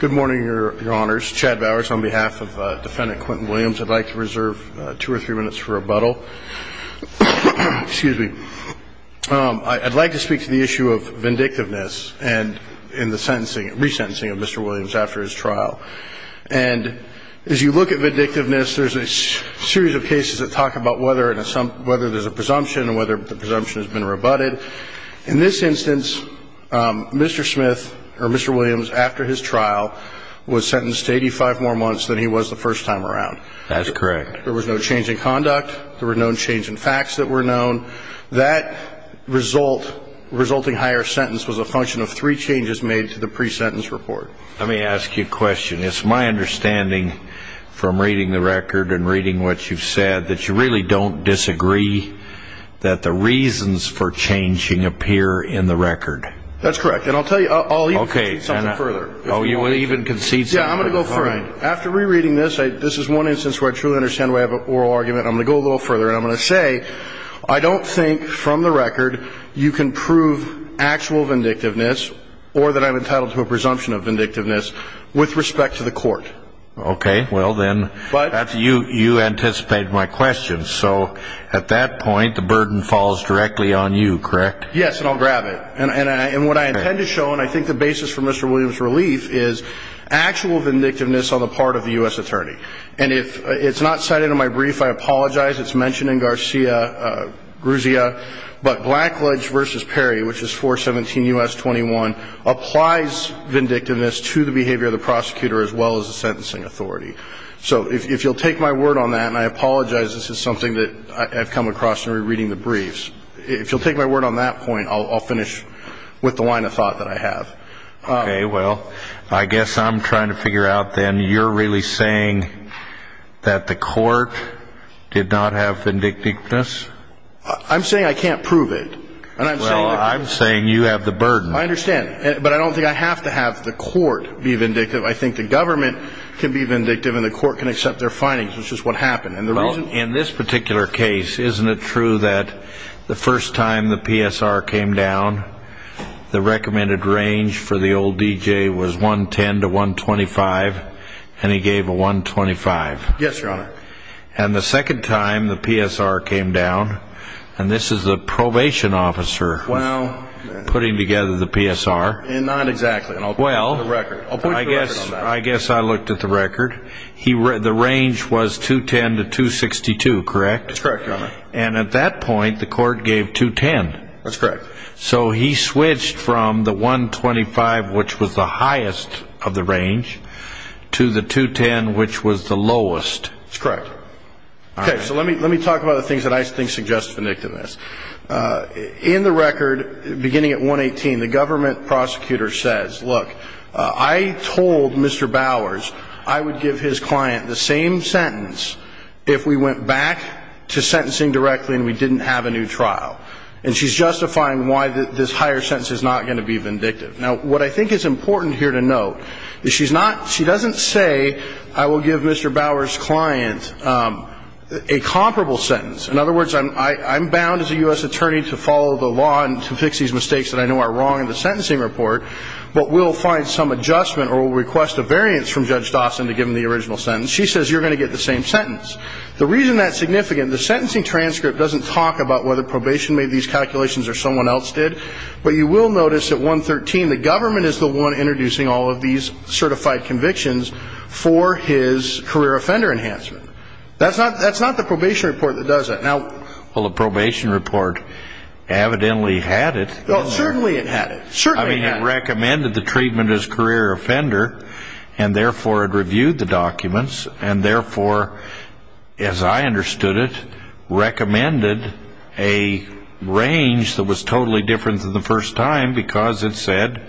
Good morning, Your Honors. Chad Bowers on behalf of Defendant Quinton Williams. I'd like to reserve two or three minutes for rebuttal. Excuse me. I'd like to speak to the issue of vindictiveness and in the sentencing, resentencing of Mr. Williams after his trial. And as you look at vindictiveness, there's a series of cases that talk about whether there's a presumption and whether the presumption has been rebutted. In this instance, Mr. Smith, or Mr. Williams, after his trial, was sentenced to 85 more months than he was the first time around. That's correct. There was no change in conduct. There were no change in facts that were known. That result, resulting higher sentence, was a function of three changes made to the pre-sentence report. Let me ask you a question. It's my understanding from reading the record and reading what you've said that you really don't disagree that the reasons for changing appear in the record. That's correct. And I'll tell you, I'll even concede something further. Oh, you will even concede something further. Yeah, I'm going to go further. After rereading this, this is one instance where I truly understand why I have an oral argument. I'm going to go a little further and I'm going to say I don't think from the record you can prove actual vindictiveness or that I'm entitled to a presumption of vindictiveness with respect to the court. Okay, well then, you anticipated my question. So at that point, the burden falls directly on you, correct? Yes, and I'll grab it. And what I intend to show, and I think the basis for Mr. Williams' relief, is actual vindictiveness on the part of the U.S. Attorney. And if it's not cited in my brief, I apologize. It's mentioned in Garcia-Gruzia. But Blackledge v. Perry, which is 417 U.S. 21, applies vindictiveness to the behavior of the prosecutor as well as the sentencing authority. So if you'll take my word on that, and I apologize, this is something that I've come across in rereading the briefs. If you'll take my word on that point, I'll finish with the line of thought that I have. Okay, well, I guess I'm trying to figure out then, you're really saying that the court did not have vindictiveness? I'm saying I can't prove it. Well, I'm saying you have the burden. I understand. But I don't think I have to have the court be vindictive. I think the government can be vindictive and the court can accept their findings, which is what happened. Well, in this particular case, isn't it true that the first time the PSR came down, the recommended range for the old D.J. was 110 to 125, and he gave a 125? Yes, Your Honor. And the second time the PSR came down, and this is the probation officer putting together the PSR. Not exactly. Well, I guess I looked at the record. The range was 210 to 262, correct? That's correct, Your Honor. And at that point, the court gave 210. That's correct. So he switched from the 125, which was the highest of the range, to the 210, which was the lowest. That's correct. Okay, so let me talk about the things that I think suggest vindictiveness. In the record, beginning at 118, the government prosecutor says, look, I told Mr. Bowers I would give his client the same sentence if we went back to sentencing directly and we didn't have a new trial. And she's justifying why this higher sentence is not going to be vindictive. Now, what I think is important here to note is she's not ñ she doesn't say, I will give Mr. Bowers' client a comparable sentence. In other words, I'm bound as a U.S. attorney to follow the law and to fix these mistakes that I know are wrong in the sentencing report, but we'll find some adjustment or we'll request a variance from Judge Dawson to give him the original sentence. She says you're going to get the same sentence. The reason that's significant, the sentencing transcript doesn't talk about whether probation made these calculations or someone else did, but you will notice at 113, the government is the one introducing all of these certified convictions for his career offender enhancement. That's not the probation report that does that. Well, the probation report evidently had it. Well, certainly it had it. Certainly it had it. I mean, it recommended the treatment as career offender, and therefore it reviewed the documents, and therefore, as I understood it, recommended a range that was totally different than the first time because it said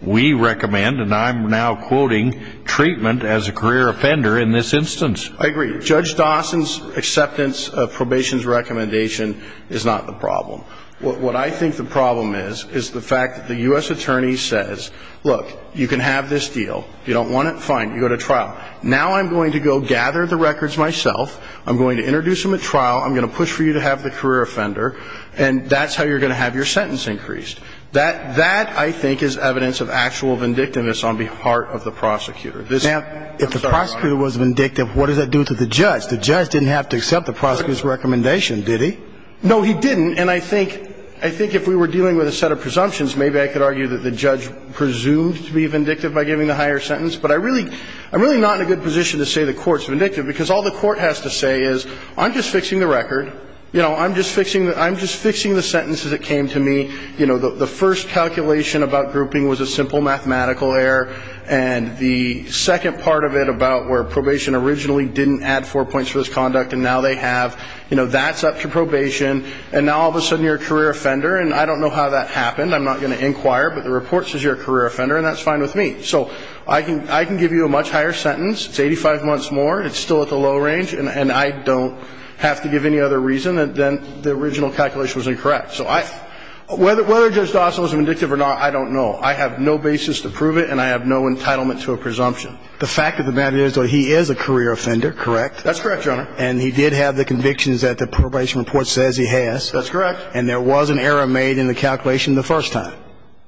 we recommend, and I'm now quoting, treatment as a career offender in this instance. I agree. Judge Dawson's acceptance of probation's recommendation is not the problem. What I think the problem is is the fact that the U.S. attorney says, look, you can have this deal. You don't want it? Fine. You go to trial. Now I'm going to go gather the records myself. I'm going to introduce them at trial. I'm going to push for you to have the career offender, and that's how you're going to have your sentence increased. That, I think, is evidence of actual vindictiveness on behalf of the prosecutor. Now, if the prosecutor was vindictive, what does that do to the judge? The judge didn't have to accept the prosecutor's recommendation, did he? No, he didn't, and I think if we were dealing with a set of presumptions, maybe I could argue that the judge presumed to be vindictive by giving the higher sentence, but I'm really not in a good position to say the court's vindictive, because all the court has to say is I'm just fixing the record. You know, I'm just fixing the sentences that came to me. You know, the first calculation about grouping was a simple mathematical error, and the second part of it about where probation originally didn't add four points for this conduct and now they have, you know, that's up to probation, and now all of a sudden you're a career offender, and I don't know how that happened. I'm not going to inquire, but the report says you're a career offender, and that's fine with me. So I can give you a much higher sentence. It's 85 months more. It's still at the low range, and I don't have to give any other reason than the original calculation was incorrect. So I – whether Judge Dossal is vindictive or not, I don't know. I have no basis to prove it, and I have no entitlement to a presumption. The fact of the matter is, though, he is a career offender, correct? That's correct, Your Honor. And he did have the convictions that the probation report says he has. That's correct. And there was an error made in the calculation the first time.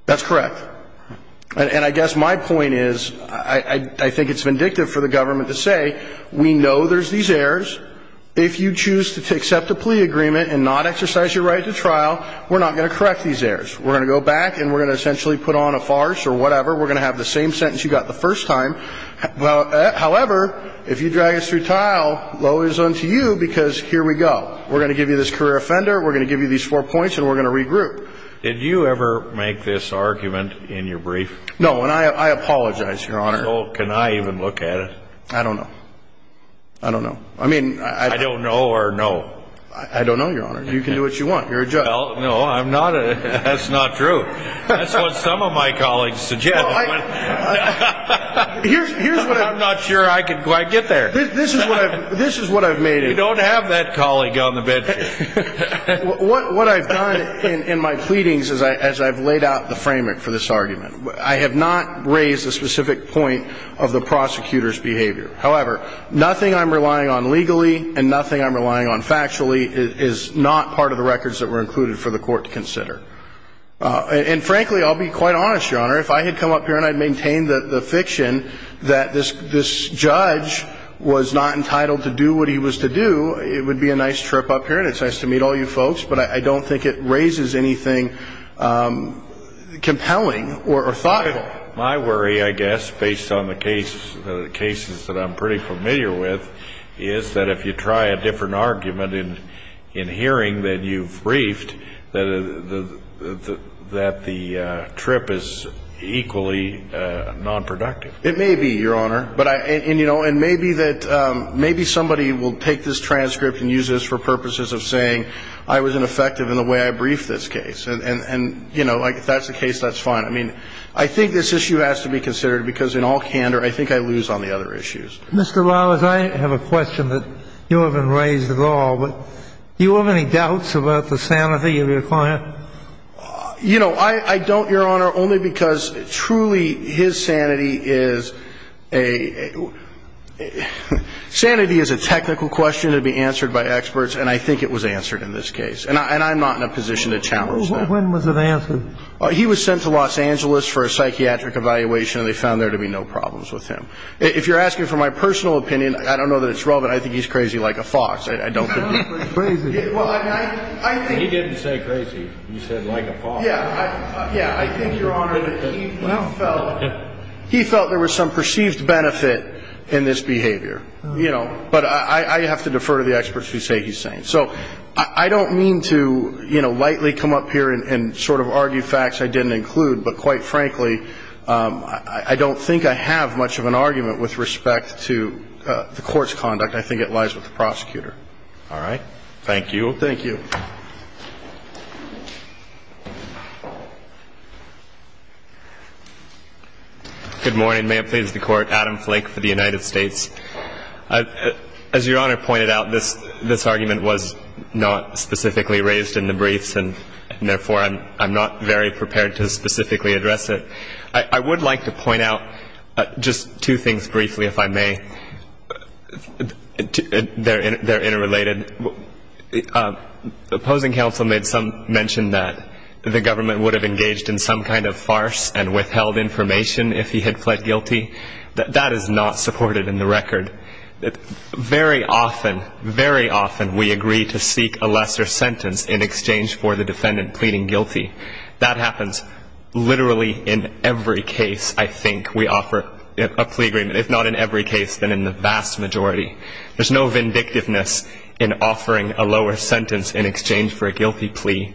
That's correct. And I guess my point is, I think it's vindictive for the government to say, we know there's these errors. If you choose to accept a plea agreement and not exercise your right to trial, we're not going to correct these errors. We're going to go back and we're going to essentially put on a farce or whatever. We're going to have the same sentence you got the first time. However, if you drag us through trial, low is unto you, because here we go. We're going to give you this career offender. We're going to give you these four points, and we're going to regroup. Did you ever make this argument in your brief? No, and I apologize, Your Honor. So can I even look at it? I don't know. I don't know. I mean, I don't know. I don't know or no? I don't know, Your Honor. You can do what you want. You're a judge. Well, no, I'm not. That's not true. That's what some of my colleagues suggested. I'm not sure I could quite get there. This is what I've made it. You don't have that colleague on the bench here. What I've done in my pleadings is I've laid out the framework for this argument. I have not raised a specific point of the prosecutor's behavior. However, nothing I'm relying on legally and nothing I'm relying on factually is not part of the records that were included for the court to consider. And, frankly, I'll be quite honest, Your Honor. If I had come up here and I'd maintained the fiction that this judge was not entitled to do what he was to do, it would be a nice trip up here and it's nice to meet all you folks, but I don't think it raises anything compelling or thoughtful. My worry, I guess, based on the cases that I'm pretty familiar with, is that if you try a different argument in hearing that you've briefed, that the trip is equally nonproductive. It may be, Your Honor. And maybe somebody will take this transcript and use this for purposes of saying I was ineffective in the way I briefed this case. And if that's the case, that's fine. I mean, I think this issue has to be considered because in all candor, I think I lose on the other issues. Mr. Lawless, I have a question that you haven't raised at all. Do you have any doubts about the sanity of your client? You know, I don't, Your Honor, only because truly his sanity is a technical question to be answered by experts, and I think it was answered in this case. And I'm not in a position to challenge that. When was it answered? He was sent to Los Angeles for a psychiatric evaluation, and they found there to be no problems with him. If you're asking for my personal opinion, I don't know that it's relevant. I think he's crazy like a fox. I don't think he's crazy like a fox. He didn't say crazy. He said like a fox. Yeah, I think, Your Honor, that he felt there was some perceived benefit in this behavior. But I have to defer to the experts who say he's sane. So I don't mean to lightly come up here and sort of argue facts I didn't include, but quite frankly, I don't think I have much of an argument with respect to the court's conduct. I think it lies with the prosecutor. All right. Thank you. Thank you. Good morning. May it please the Court. Adam Flake for the United States. As Your Honor pointed out, this argument was not specifically raised in the briefs, and therefore I'm not very prepared to specifically address it. I would like to point out just two things briefly, if I may. They're interrelated. The opposing counsel mentioned that the government would have engaged in some kind of farce and withheld information if he had pled guilty. That is not supported in the record. Very often, very often we agree to seek a lesser sentence in exchange for the defendant pleading guilty. That happens literally in every case, I think, we offer a plea agreement. If not in every case, then in the vast majority. There's no vindictiveness in offering a lower sentence in exchange for a guilty plea.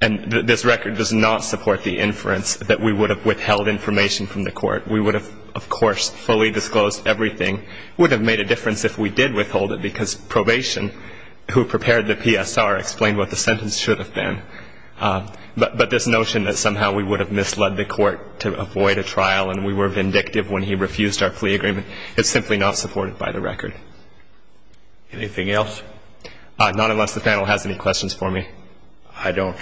And this record does not support the inference that we would have withheld information from the court. We would have, of course, fully disclosed everything. It would have made a difference if we did withhold it, because probation, who prepared the PSR, explained what the sentence should have been. But this notion that somehow we would have misled the court to avoid a trial and we were vindictive when he refused our plea agreement is simply not supported by the record. Anything else? Not unless the panel has any questions for me. I don't.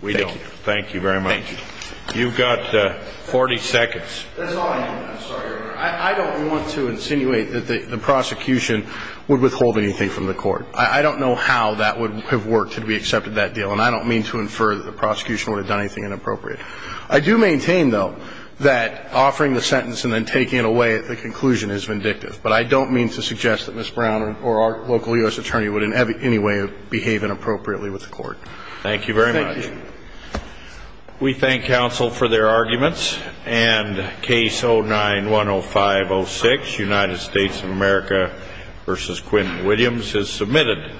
We don't. Thank you very much. Thank you. You've got 40 seconds. That's all I have. I'm sorry, Your Honor. I don't want to insinuate that the prosecution would withhold anything from the court. I don't know how that would have worked had we accepted that deal, and I don't mean to infer that the prosecution would have done anything inappropriate. I do maintain, though, that offering the sentence and then taking it away at the conclusion is vindictive. But I don't mean to suggest that Ms. Brown or our local U.S. attorney would in any way behave inappropriately with the court. Thank you very much. Thank you. We thank counsel for their arguments. And Case 09-10506, United States of America v. Quinn Williams, is submitted.